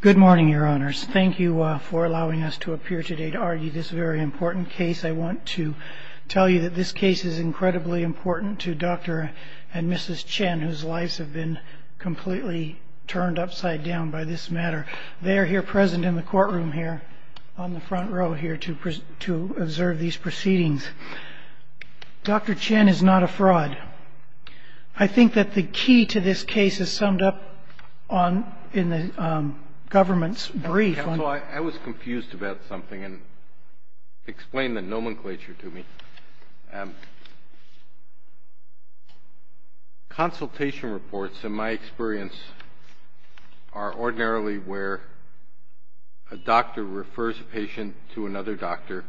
Good morning, your honors. Thank you for allowing us to appear today to argue this very important case. I want to tell you that this case is incredibly important to Dr. and Mrs. Chen, whose lives have been completely turned upside down by this matter. They are here present in the courtroom here, on the front row here, to observe these proceedings. Dr. Chen is not a fraud. I think that the key to this case is summed up in the government's brief. Counsel, I was confused about something, and explain the nomenclature to me. Consultation reports, in my experience, are ordinarily where a doctor refers a patient to another doctor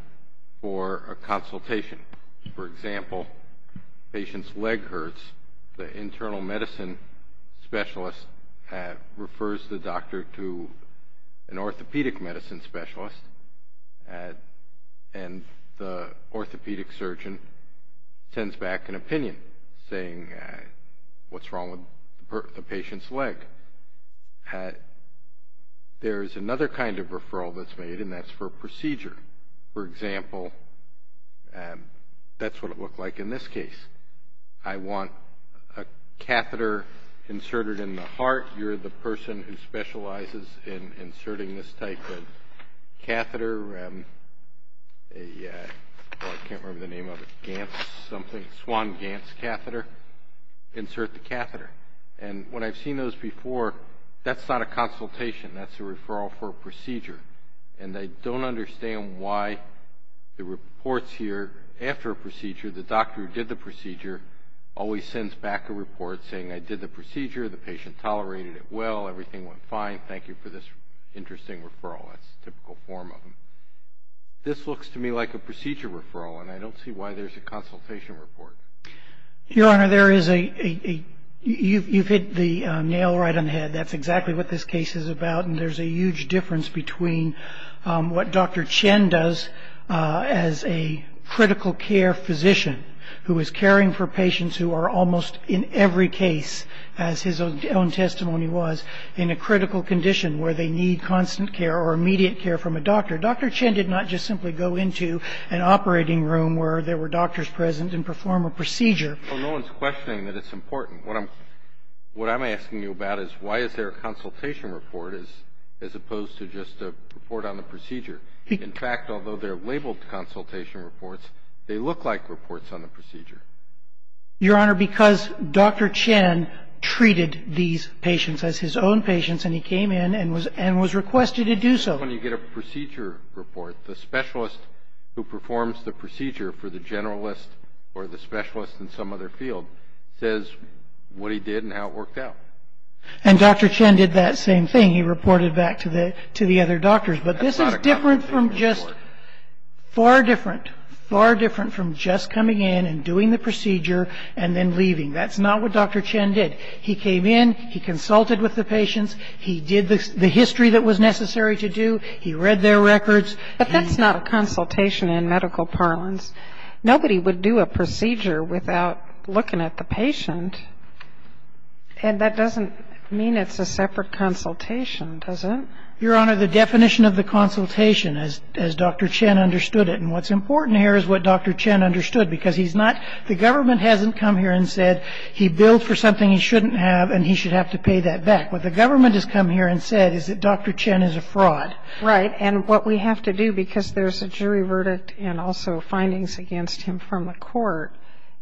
for a consultation. For example, a patient's leg hurts, the internal medicine specialist refers the doctor to an orthopedic medicine specialist, and the orthopedic surgeon sends back an opinion saying what's wrong with the patient's leg. There's another kind of referral that's made, and that's for a procedure. For example, that's what it looked like in this case. I want a catheter inserted in the heart. You're the person who specializes in inserting this type of catheter, a, well, I can't remember the name of it, GANS something, Swan-GANS catheter, insert the catheter. And when I've seen those before, that's not a consultation. That's a referral for a procedure. And I don't understand why the reports here after a procedure, the doctor who did the procedure always sends back a report saying I did the procedure, the patient tolerated it well, everything went fine, thank you for this interesting referral. That's the typical form of them. This looks to me like a procedure referral, and I don't see why there's a consultation report. Your Honor, there is a, you've hit the nail right on the head. That's exactly what this case is about, and there's a huge difference between what Dr. Chen does as a critical care physician who is caring for patients who are almost in every case, as his own testimony was, in a critical condition where they need constant care or immediate care from a doctor. Dr. Chen did not just simply go into an operating room where there were doctors present and perform a procedure. Well, no one's questioning that it's important. What I'm asking you about is why is there a consultation report as opposed to just a report on the procedure? In fact, although they're labeled consultation reports, they look like reports on the procedure. Your Honor, because Dr. Chen treated these patients as his own patients, and he came in and was requested to do so. When you get a procedure report, the specialist who performs the procedure for the generalist or the specialist in some other field says what he did and how it worked out. And Dr. Chen did that same thing. He reported back to the other doctors. But this is different from just, far different, far different from just coming in and doing the procedure and then leaving. That's not what Dr. Chen did. He came in. He consulted with the patients. He did the history that was necessary to do. He read their records. But that's not a consultation in medical parlance. Nobody would do a procedure without looking at the patient. And that doesn't mean it's a separate consultation, does it? Your Honor, the definition of the consultation, as Dr. Chen understood it, and what's important here is what Dr. Chen understood because he's not the government hasn't come here and said he billed for something he shouldn't have and he should have to pay that back. What the government has come here and said is that Dr. Chen is a fraud. Right. And what we have to do, because there's a jury verdict and also findings against him from the court,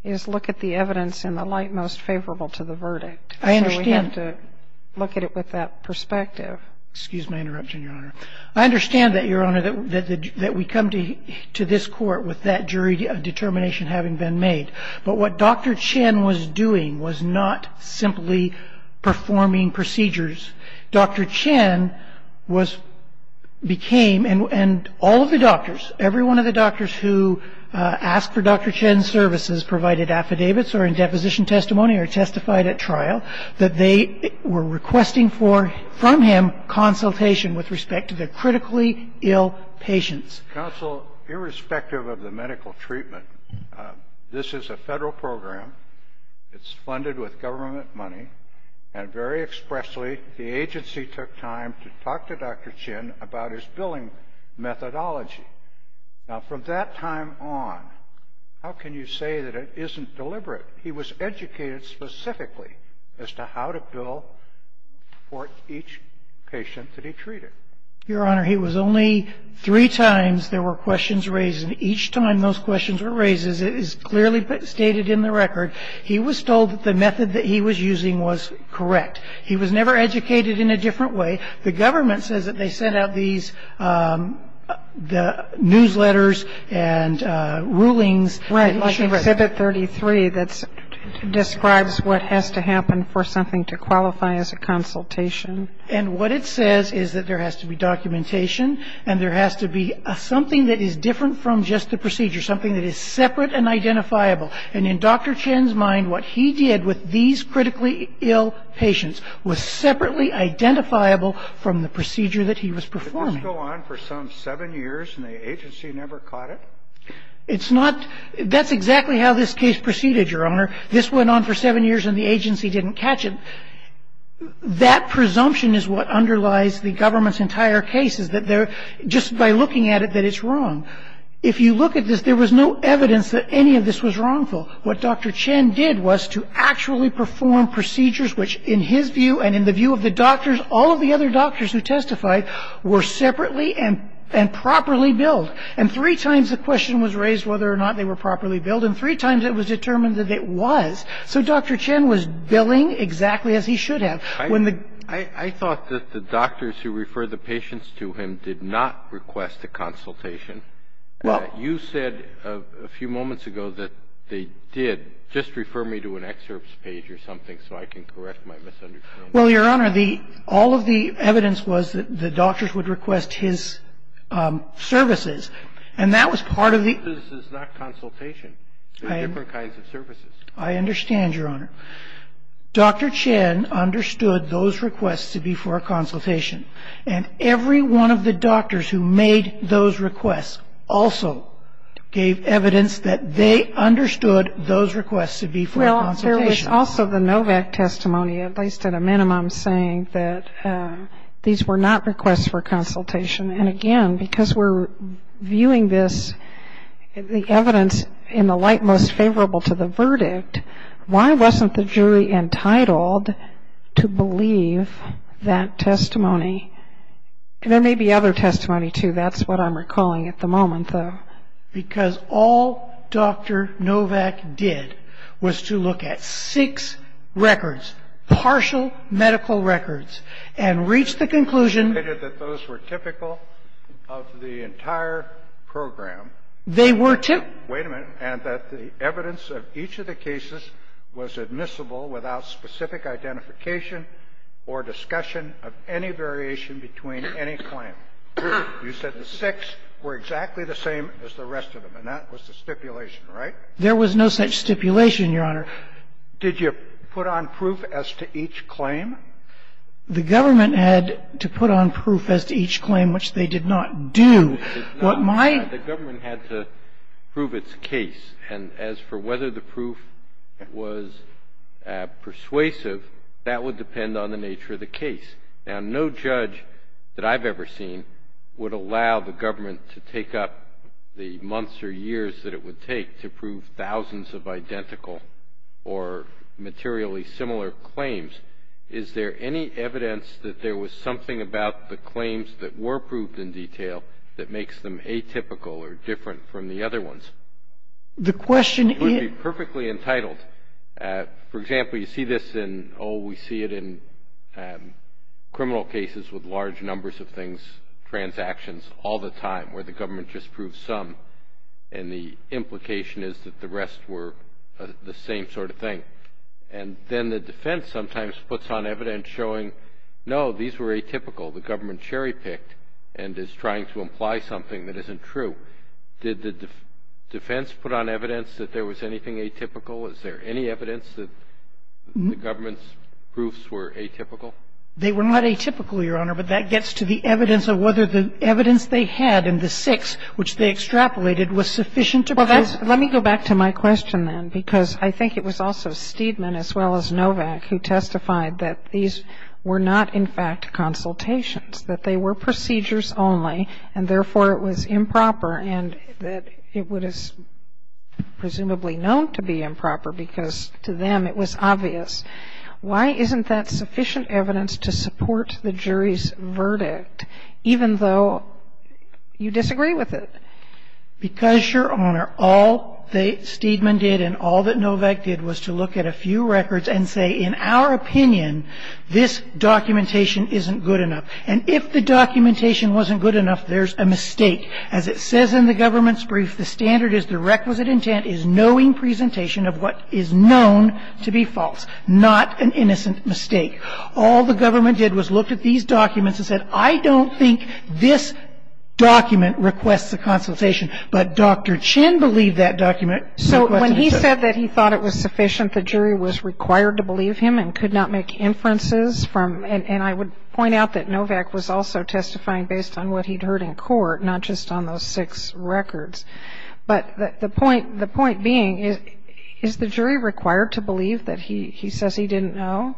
is look at the evidence in the light most favorable to the verdict. I understand. So we have to look at it with that perspective. Excuse my interruption, Your Honor. I understand that, Your Honor, that we come to this court with that jury determination having been made. But what Dr. Chen was doing was not simply performing procedures. Dr. Chen was, became, and all of the doctors, every one of the doctors who asked for Dr. Chen's services provided affidavits or in deposition testimony or testified at trial, that they were requesting for, from him, consultation with respect to the critically ill patients. Counsel, irrespective of the medical treatment, this is a Federal program. It's funded with government money. And very expressly, the agency took time to talk to Dr. Chen about his billing methodology. Now, from that time on, how can you say that it isn't deliberate? He was educated specifically as to how to bill for each patient that he treated. Your Honor, he was only three times there were questions raised. And each time those questions were raised, as it is clearly stated in the record, he was told that the method that he was using was correct. He was never educated in a different way. The government says that they sent out these newsletters and rulings. Right. Like Exhibit 33 that describes what has to happen for something to qualify as a consultation. And what it says is that there has to be documentation and there has to be something that is different from just the procedure, something that is separate and identifiable. And in Dr. Chen's mind, what he did with these critically ill patients was separately identifiable from the procedure that he was performing. Did this go on for some seven years and the agency never caught it? It's not – that's exactly how this case proceeded, Your Honor. This went on for seven years and the agency didn't catch it. That presumption is what underlies the government's entire case, is that they're just by looking at it that it's wrong. If you look at this, there was no evidence that any of this was wrongful. What Dr. Chen did was to actually perform procedures which, in his view and in the view of the doctors, all of the other doctors who testified were separately and properly billed. And three times the question was raised whether or not they were properly billed, and three times it was determined that it was. So Dr. Chen was billing exactly as he should have. I thought that the doctors who referred the patients to him did not request a consultation. You said a few moments ago that they did. Just refer me to an excerpts page or something so I can correct my misunderstanding. Well, Your Honor, the – all of the evidence was that the doctors would request his services. And that was part of the – Services is not consultation. There are different kinds of services. I understand, Your Honor. Dr. Chen understood those requests to be for a consultation. And every one of the doctors who made those requests also gave evidence that they understood those requests to be for a consultation. Well, there is also the Novak testimony, at least at a minimum, saying that these were not requests for consultation. And, again, because we're viewing this – the evidence in the light most favorable to the jury, I want the jury entitled to believe that testimony. And there may be other testimony, too. That's what I'm recalling at the moment, though. Because all Dr. Novak did was to look at six records, partial medical records, and reach the conclusion – That those were typical of the entire program. They were, too. Wait a minute. And that the evidence of each of the cases was admissible without specific identification or discussion of any variation between any claim. You said the six were exactly the same as the rest of them. And that was the stipulation, right? There was no such stipulation, Your Honor. Did you put on proof as to each claim? The government had to put on proof as to each claim, which they did not do. What my – The government had to prove its case. And as for whether the proof was persuasive, that would depend on the nature of the case. Now, no judge that I've ever seen would allow the government to take up the months or years that it would take to prove thousands of identical or materially similar claims. Is there any evidence that there was something about the claims that were proved in detail that makes them atypical or different from the other ones? The question is – It would be perfectly entitled. For example, you see this in – oh, we see it in criminal cases with large numbers of things, transactions, all the time, where the government just proves some. And the implication is that the rest were the same sort of thing. And then the defense sometimes puts on evidence showing, no, these were atypical. The government cherry-picked and is trying to imply something that isn't true. Did the defense put on evidence that there was anything atypical? Is there any evidence that the government's proofs were atypical? They were not atypical, Your Honor. But that gets to the evidence of whether the evidence they had in the six which they extrapolated was sufficient to prove – Well, that's – let me go back to my question, then, because I think it was also that they were procedures only, and therefore it was improper, and that it would have presumably known to be improper because to them it was obvious. Why isn't that sufficient evidence to support the jury's verdict, even though you disagree with it? Because, Your Honor, all that Steedman did and all that Novak did was to look at a few documents and say, well, this documentation isn't good enough. And if the documentation wasn't good enough, there's a mistake. As it says in the government's brief, the standard is the requisite intent is knowing presentation of what is known to be false, not an innocent mistake. All the government did was look at these documents and said, I don't think this document requests a consultation. But Dr. Chin believed that document. So when he said that he thought it was sufficient, the jury was required to believe him and could not make inferences from – and I would point out that Novak was also testifying based on what he'd heard in court, not just on those six records. But the point being, is the jury required to believe that he says he didn't know?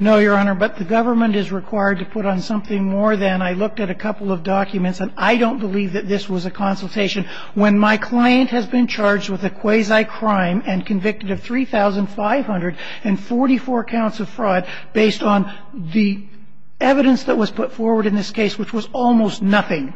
No, Your Honor. But the government is required to put on something more than, I looked at a couple of documents, and I don't believe that this was a consultation. When my client has been charged with a quasi-crime and convicted of 3,544 counts of fraud based on the evidence that was put forward in this case, which was almost nothing,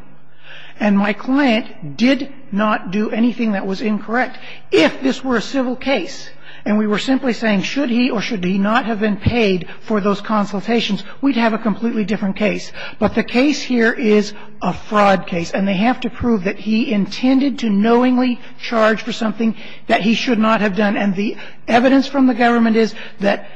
and my client did not do anything that was incorrect, if this were a civil case, and we were simply saying, should he or should he not have been paid for those consultations, we'd have a completely different case. But the case here is a fraud case, and they have to prove that he intended to knowingly charge for something that he should not have done. And the evidence from the government is that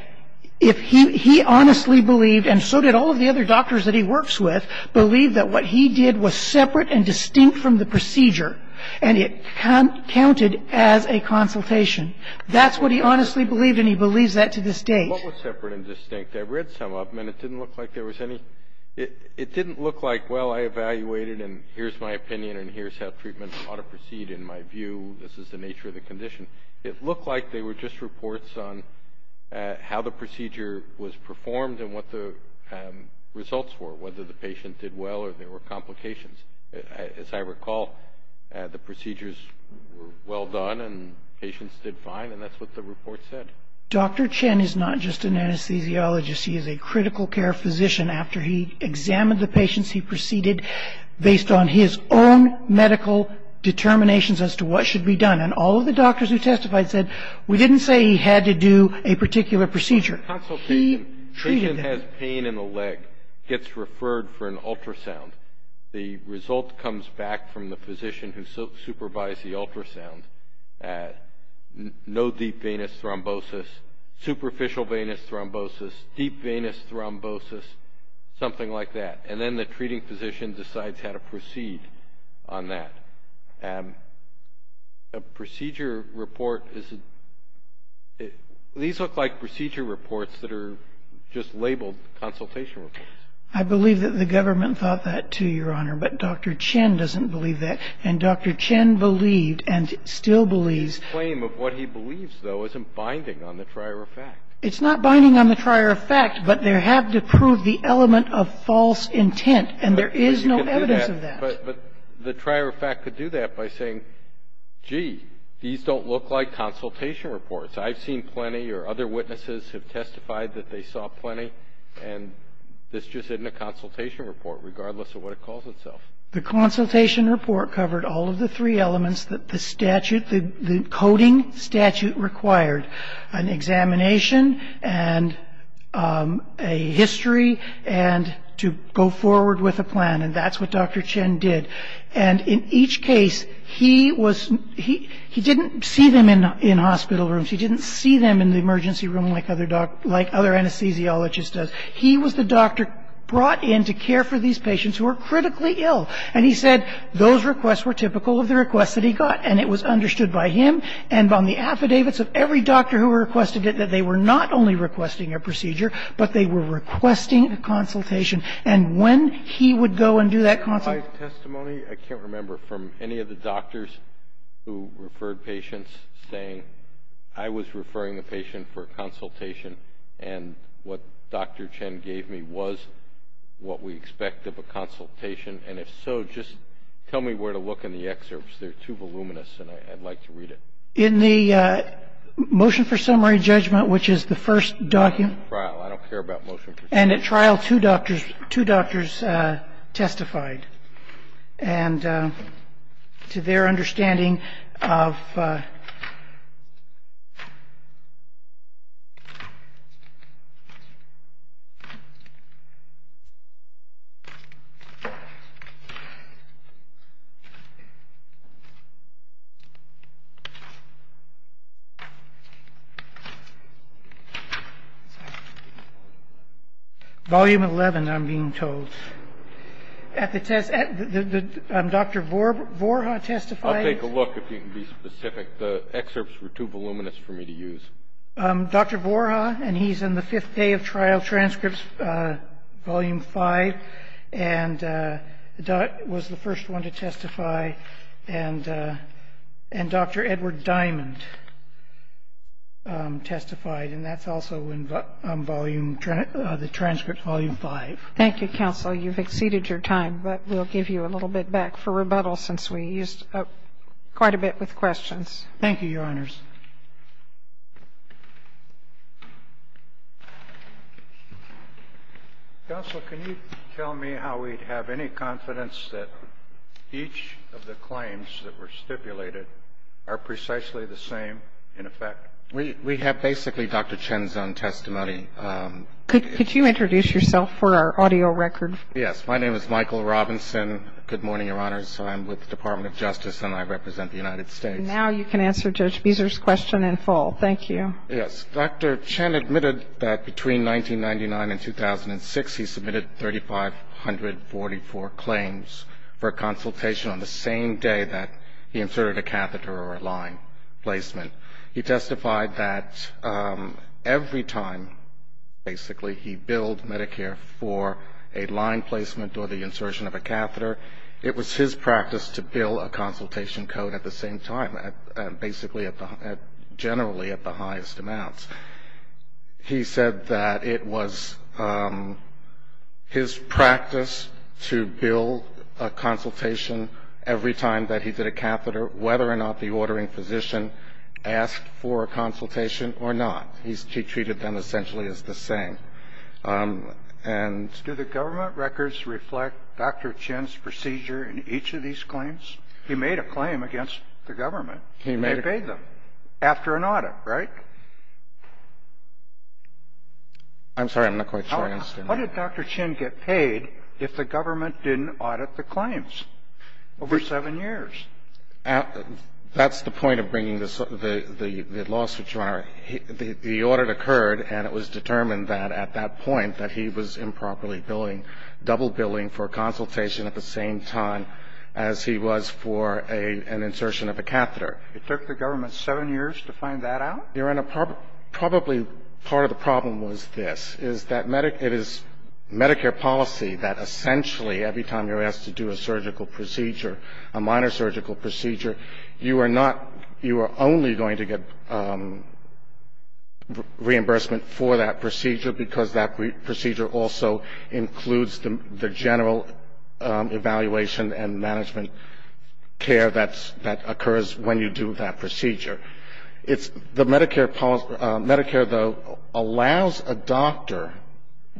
if he – he honestly believed, and so did all of the other doctors that he works with, believed that what he did was separate and distinct from the procedure, and it counted as a consultation. That's what he honestly believed, and he believes that to this date. What was separate and distinct? I read some of them, and it didn't look like there was any – it didn't look like, well, I evaluated, and here's my opinion, and here's how treatment ought to proceed in my view. This is the nature of the condition. It looked like they were just reports on how the procedure was performed and what the results were, whether the patient did well or there were complications. As I recall, the procedures were well done, and patients did fine, and that's what the report said. Dr. Chen is not just an anesthesiologist. He is a critical care physician. After he examined the patients, he proceeded based on his own medical determinations as to what should be done, and all of the doctors who testified said, we didn't say he had to do a particular procedure. He treated them. A patient has pain in the leg, gets referred for an ultrasound. The result comes back from the physician who supervised the ultrasound. No deep venous thrombosis, superficial venous thrombosis, deep venous thrombosis, something like that. And then the treating physician decides how to proceed on that. A procedure report is – these look like procedure reports that are just labeled consultation reports. I believe that the government thought that too, Your Honor, but Dr. Chen doesn't believe that, and Dr. Chen believed and still believes. The claim of what he believes, though, isn't binding on the trier of fact. It's not binding on the trier of fact, but they have to prove the element of false intent, and there is no evidence of that. But the trier of fact could do that by saying, gee, these don't look like consultation reports. I've seen plenty, or other witnesses have testified that they saw plenty, and this just isn't a consultation report, regardless of what it calls itself. The consultation report covered all of the three elements that the statute – the coding statute required, an examination and a history and to go forward with a plan, and that's what Dr. Chen did. And in each case, he was – he didn't see them in hospital rooms. He didn't see them in the emergency room like other anesthesiologists do. He was the doctor brought in to care for these patients who were critically ill, and he said those requests were typical of the requests that he got. And it was understood by him and on the affidavits of every doctor who requested it that they were not only requesting a procedure, but they were requesting a consultation. And when he would go and do that consultation – And if so, just tell me where to look in the excerpts. They're too voluminous, and I'd like to read it. In the motion for summary judgment, which is the first document – I don't care about trial. I don't care about motion for summary judgment. And at trial, two doctors – two doctors testified. And to their understanding of – Volume 11, I'm being told. At the test – Dr. Vorha testified. I'll take a look, if you can be specific. The excerpts were too voluminous for me to use. Dr. Vorha, and he's in the Fifth Day of Trial Transcripts, Volume 5, and was the first one to testify. And Dr. Edward Diamond testified, and that's also in the transcript, Volume 5. Thank you, counsel. You've exceeded your time, but we'll give you a little bit back for rebuttal, since we used up quite a bit with questions. Thank you, Your Honors. Counsel, can you tell me how we'd have any confidence that each of the claims that were stipulated are precisely the same in effect? We have basically Dr. Chin's own testimony. Could you introduce yourself for our audio record? Yes. My name is Michael Robinson. Good morning, Your Honors. I'm with the Department of Justice, and I represent the United States. Now you can answer Judge Beezer's question in full. Thank you. Yes. Dr. Chin admitted that between 1999 and 2006, he submitted 3,544 claims for a consultation on the same day that he inserted a catheter or a line placement. He testified that every time, basically, he billed Medicare for a line placement or the insertion of a catheter, it was his practice to bill a consultation code at the same time, basically generally at the highest amounts. He said that it was his practice to bill a consultation every time that he did a catheter, whether or not the ordering physician asked for a consultation or not. He treated them essentially as the same. Do the government records reflect Dr. Chin's procedure in each of these claims? He made a claim against the government. He made a claim. And he paid them after an audit, right? I'm sorry. I'm not quite sure I understand that. How did Dr. Chin get paid if the government didn't audit the claims over seven years? That's the point of bringing the lawsuit to honor. The audit occurred and it was determined that at that point that he was improperly billing, double billing for a consultation at the same time as he was for an insertion of a catheter. It took the government seven years to find that out? Your Honor, probably part of the problem was this, is that it is Medicare policy that essentially every time you're asked to do a surgical procedure, a minor surgical procedure, you are not, you are only going to get reimbursement for that procedure because that procedure also includes the general evaluation and management care that occurs when you do that procedure. It's the Medicare policy, Medicare, though, allows a doctor,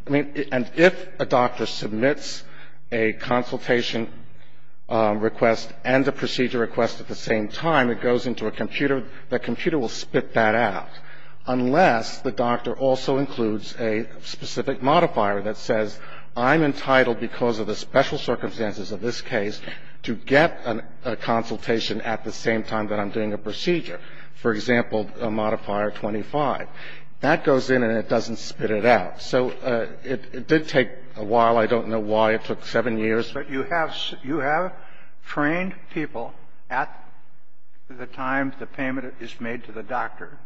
I mean, and if a doctor submits a consultation request and a procedure request at the same time, it goes into a computer, that computer will spit that out unless the doctor also includes a specific modifier that says I'm entitled because of the special circumstances of this case to get a consultation at the same time that I'm doing a procedure, for example, modifier 25. That goes in and it doesn't spit it out. So it did take a while. I don't know why. It took seven years. But you have trained people at the time the payment is made to the doctor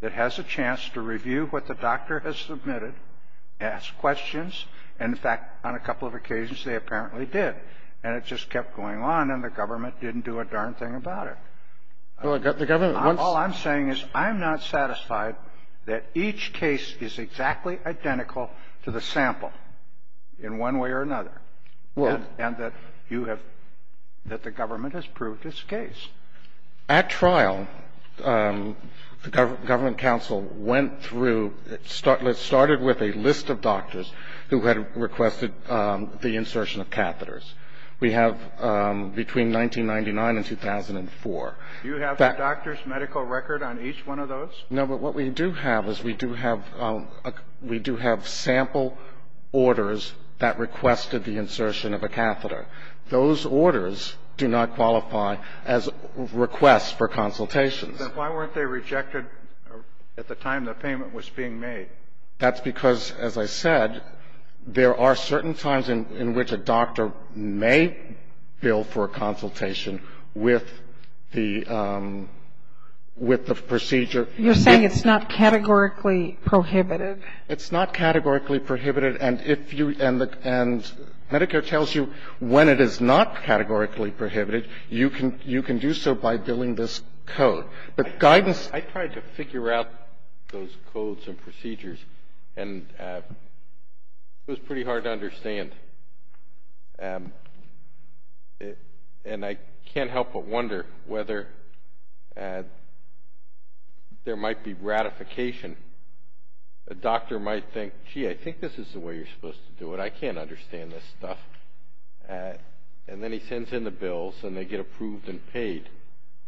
that has a chance to review what the doctor has submitted, ask questions, and, in fact, on a couple of occasions, they apparently did. And it just kept going on and the government didn't do a darn thing about it. Well, the government once ---- All I'm saying is I'm not satisfied that each case is exactly identical to the sample in one way or another. Well ---- And that you have ---- that the government has proved its case. At trial, the government counsel went through ---- started with a list of doctors who had requested the insertion of catheters. We have between 1999 and 2004. Do you have the doctor's medical record on each one of those? No. But what we do have is we do have sample orders that requested the insertion of a catheter. Those orders do not qualify as requests for consultations. Then why weren't they rejected at the time the payment was being made? That's because, as I said, there are certain times in which a doctor may bill for a consultation with the procedure. You're saying it's not categorically prohibited? It's not categorically prohibited. And if you ---- and Medicare tells you when it is not categorically prohibited, you can do so by billing this code. But guidance ---- I tried to figure out those codes and procedures, and it was pretty hard to understand. And I can't help but wonder whether there might be ratification. A doctor might think, gee, I think this is the way you're supposed to do it. I can't understand this stuff. And then he sends in the bills, and they get approved and paid.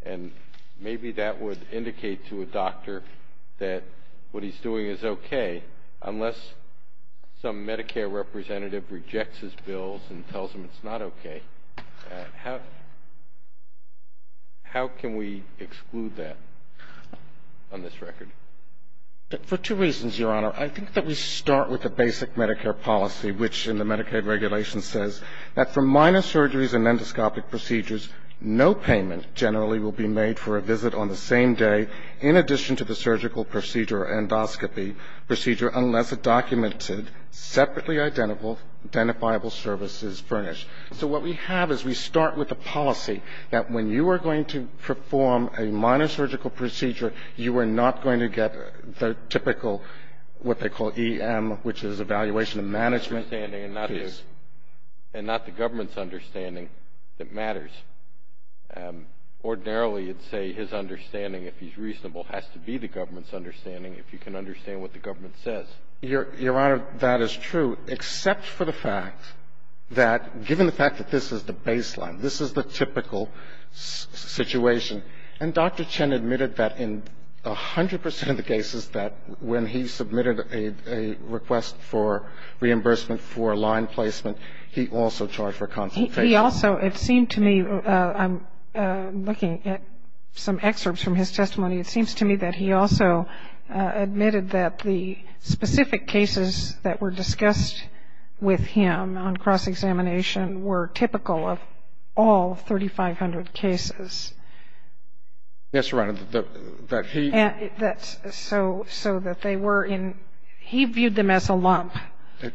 And maybe that would indicate to a doctor that what he's doing is okay, unless some Medicare representative rejects his bills and tells him it's not okay. How can we exclude that on this record? For two reasons, Your Honor. I think that we start with the basic Medicare policy, which in the Medicaid regulation says that for minor surgeries and endoscopic procedures, no payment generally will be made for a visit on the same day, in addition to the surgical procedure or endoscopy procedure, unless a documented, separately identifiable service is furnished. So what we have is we start with a policy that when you are going to perform a minor surgical procedure, you are not going to get the typical what they call EM, which is evaluation and management. And that's not the government's understanding that matters. Ordinarily, you'd say his understanding, if he's reasonable, has to be the government's understanding if you can understand what the government says. Your Honor, that is true, except for the fact that, given the fact that this is the baseline, this is the typical situation. And Dr. Chen admitted that in 100 percent of the cases, that when he submitted a request for reimbursement for line placement, he also charged for consultation. He also, it seemed to me, I'm looking at some excerpts from his testimony, it seems to me that he also admitted that the specific cases that were discussed with him on cross-examination were typical of all 3,500 cases. Yes, Your Honor. And that he And that's so that they were in, he viewed them as a lump,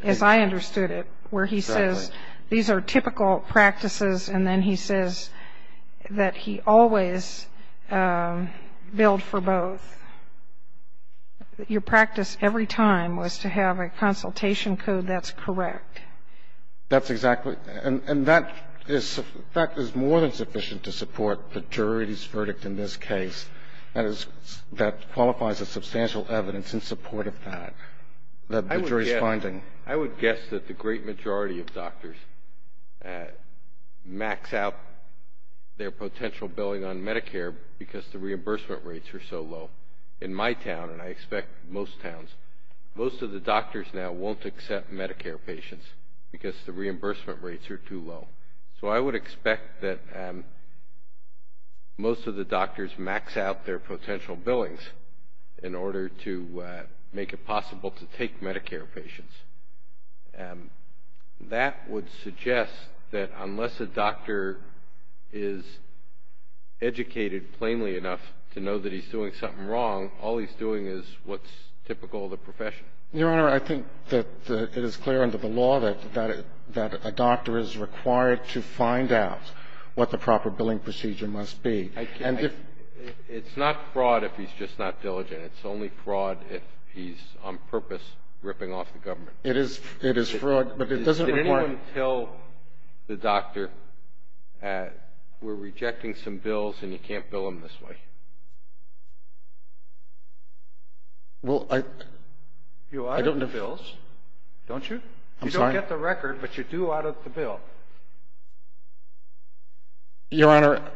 as I understood it, where he says these are typical practices, and then he says that he always billed for both. Your practice every time was to have a consultation code that's correct. That's exactly. And that is more than sufficient to support the jury's verdict in this case. That qualifies as substantial evidence in support of that, the jury's finding. I would guess that the great majority of doctors max out their potential billing on Medicare because the reimbursement rates are so low. In my town, and I expect most towns, most of the doctors now won't accept Medicare patients because the reimbursement rates are too low. So I would expect that most of the doctors max out their potential billings in order to make it possible to take Medicare patients. That would suggest that unless a doctor is educated plainly enough to know that he's doing something wrong, all he's doing is what's typical of the profession. Your Honor, I think that it is clear under the law that a doctor is required to find out what the proper billing procedure must be. It's not fraud if he's just not diligent. It's only fraud if he's on purpose ripping off the government. It is fraud, but it doesn't require ---- Did anyone tell the doctor, we're rejecting some bills and you can't bill them this way? Well, I don't know if ---- You audit the bills, don't you? I'm sorry? You don't get the record, but you do audit the bill. Your Honor,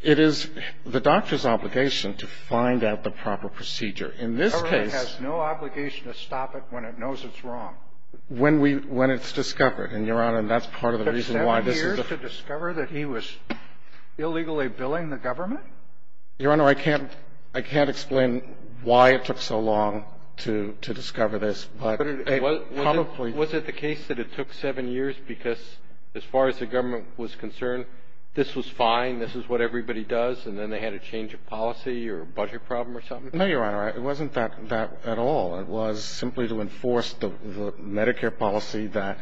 it is the doctor's obligation to find out the proper procedure. In this case ---- The government has no obligation to stop it when it knows it's wrong. When we ---- when it's discovered. And, Your Honor, that's part of the reason why this is the ---- Your Honor, I can't explain why it took so long to discover this, but it probably ---- Was it the case that it took seven years because as far as the government was concerned, this was fine, this is what everybody does, and then they had a change of policy or a budget problem or something? No, Your Honor, it wasn't that at all. It was simply to enforce the Medicare policy that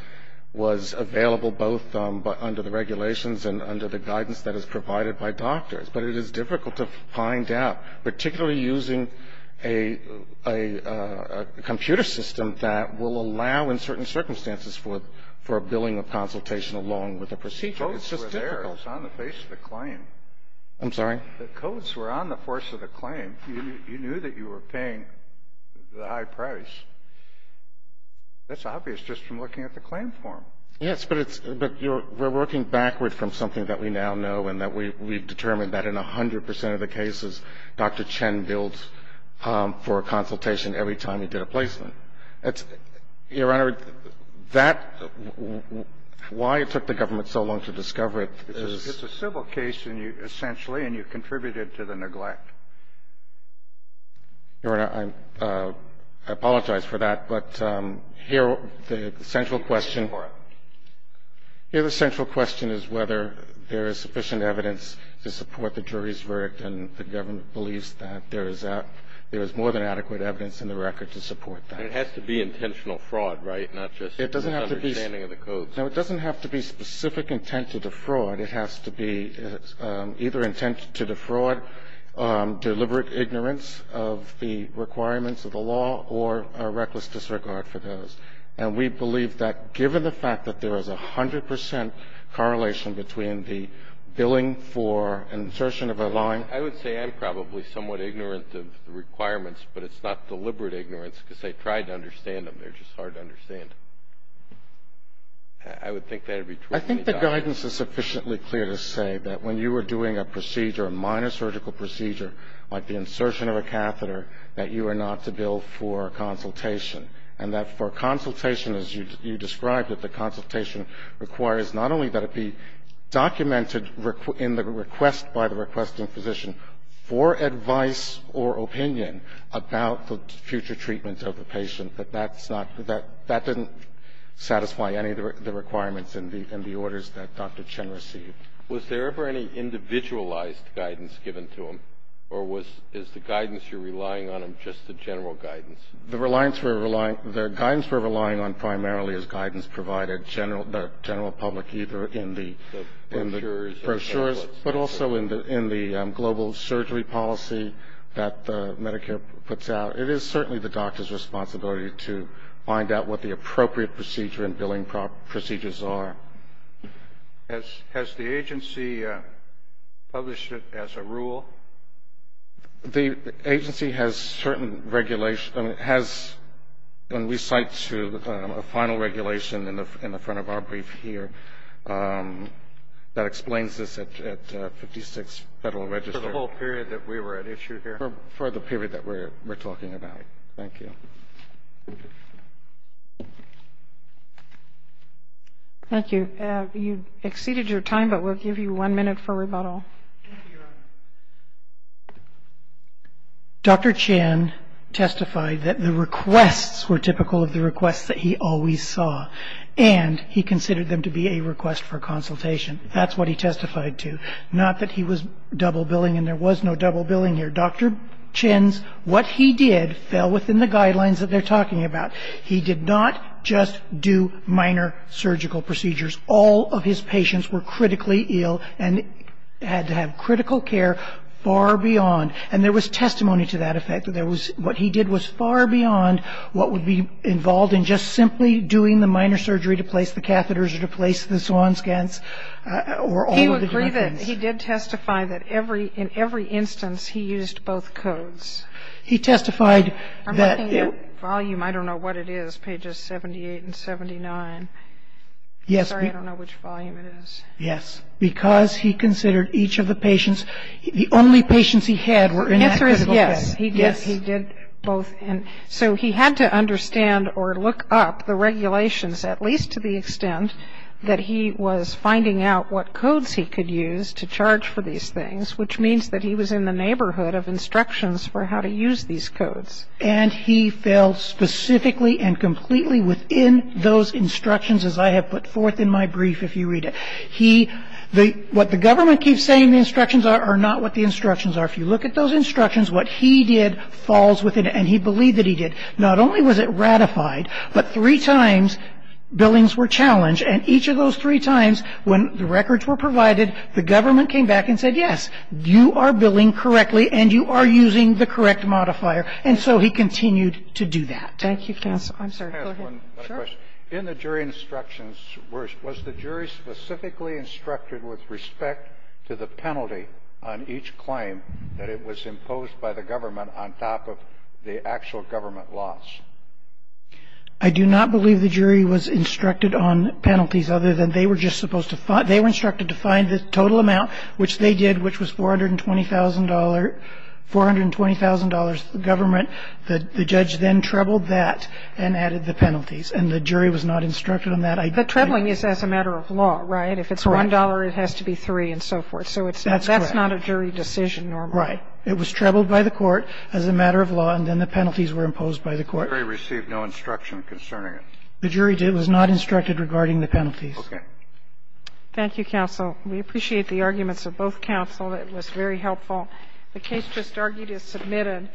was available both under the regulations and under the guidance that is provided by doctors. But it is difficult to find out, particularly using a computer system that will allow in certain circumstances for a billing or consultation along with a procedure. It's just difficult. The codes were there. It's on the face of the claim. I'm sorry? The codes were on the face of the claim. You knew that you were paying the high price. That's obvious just from looking at the claim form. Yes, but it's ---- but we're working backward from something that we now know and that we've determined that in 100 percent of the cases, Dr. Chen bills for a consultation every time he did a placement. Your Honor, that ---- why it took the government so long to discover it is ---- It's a civil case, essentially, and you contributed to the neglect. Your Honor, I apologize for that, but here the central question is whether there is sufficient evidence to support the jury's verdict and the government believes that there is more than adequate evidence in the record to support that. It has to be intentional fraud, right? Not just understanding of the codes. No, it doesn't have to be specific intent to defraud. It has to be either intent to defraud, deliberate ignorance of the requirements of the law, or a reckless disregard for those. And we believe that given the fact that there is 100 percent correlation between the billing for insertion of a line ---- I would say I'm probably somewhat ignorant of the requirements, but it's not deliberate ignorance because I tried to understand them. They're just hard to understand. I would think that would be true. I think the guidance is sufficiently clear to say that when you are doing a procedure, a minor surgical procedure like the insertion of a catheter, that you are not to bill for consultation, and that for consultation, as you described it, the consultation requires not only that it be documented in the request by the requesting physician for advice or opinion about the future treatment of the patient, but that's not ---- that didn't satisfy any of the requirements in the orders that Dr. Chen received. Was there ever any individualized guidance given to him, or is the guidance you're relying on just the general guidance? The guidance we're relying on primarily is guidance provided, the general public, either in the brochures, but also in the global surgery policy that Medicare puts out. It is certainly the doctor's responsibility to find out what the appropriate procedure and billing procedures are. Has the agency published it as a rule? The agency has certain regulations. It has, and we cite a final regulation in the front of our brief here that explains this at 56 Federal Register. For the whole period that we were at issue here? For the period that we're talking about. Thank you. Thank you. You've exceeded your time, but we'll give you one minute for rebuttal. Dr. Chen testified that the requests were typical of the requests that he always saw, and he considered them to be a request for consultation. That's what he testified to. Not that he was double billing, and there was no double billing here. Dr. Chen's what he did fell within the guidelines that they're talking about. He did not just do minor surgical procedures. All of his patients were critically ill and had to have critical care far beyond, and there was testimony to that effect. What he did was far beyond what would be involved in just simply doing the minor surgery to place the catheters or to place the swan scans or all of the other things. He did testify that in every instance he used both codes. He testified that he was. I'm looking at volume. I don't know what it is, pages 78 and 79. Yes. Sorry, I don't know which volume it is. Yes. Because he considered each of the patients, the only patients he had were in that critical care. The answer is yes. Yes. He did both. So he had to understand or look up the regulations, at least to the extent that he was finding out what codes he could use to charge for these things, which means that he was in the neighborhood of instructions for how to use these codes. And he fell specifically and completely within those instructions, as I have put forth in my brief, if you read it. What the government keeps saying the instructions are are not what the instructions are. If you look at those instructions, what he did falls within it, and he believed that he did. He believed that he did. Not only was it ratified, but three times billings were challenged, and each of those three times when the records were provided, the government came back and said, yes, you are billing correctly and you are using the correct modifier. And so he continued to do that. Thank you, counsel. I'm sorry. Go ahead. In the jury instructions, was the jury specifically instructed with respect to the penalty on each claim that it was imposed by the government on top of the actual government loss? I do not believe the jury was instructed on penalties other than they were just supposed to find they were instructed to find the total amount, which they did, which was $420,000 government. The judge then trebled that and added the penalties, and the jury was not instructed on that. The trebling is as a matter of law, right? Correct. If it's $1, it has to be $3 and so forth. That's correct. So that's not a jury decision normally. Right. It was trebled by the court as a matter of law, and then the penalties were imposed by the court. The jury received no instruction concerning it. The jury was not instructed regarding the penalties. Okay. Thank you, counsel. We appreciate the arguments of both counsel. It was very helpful. The case just argued is submitted.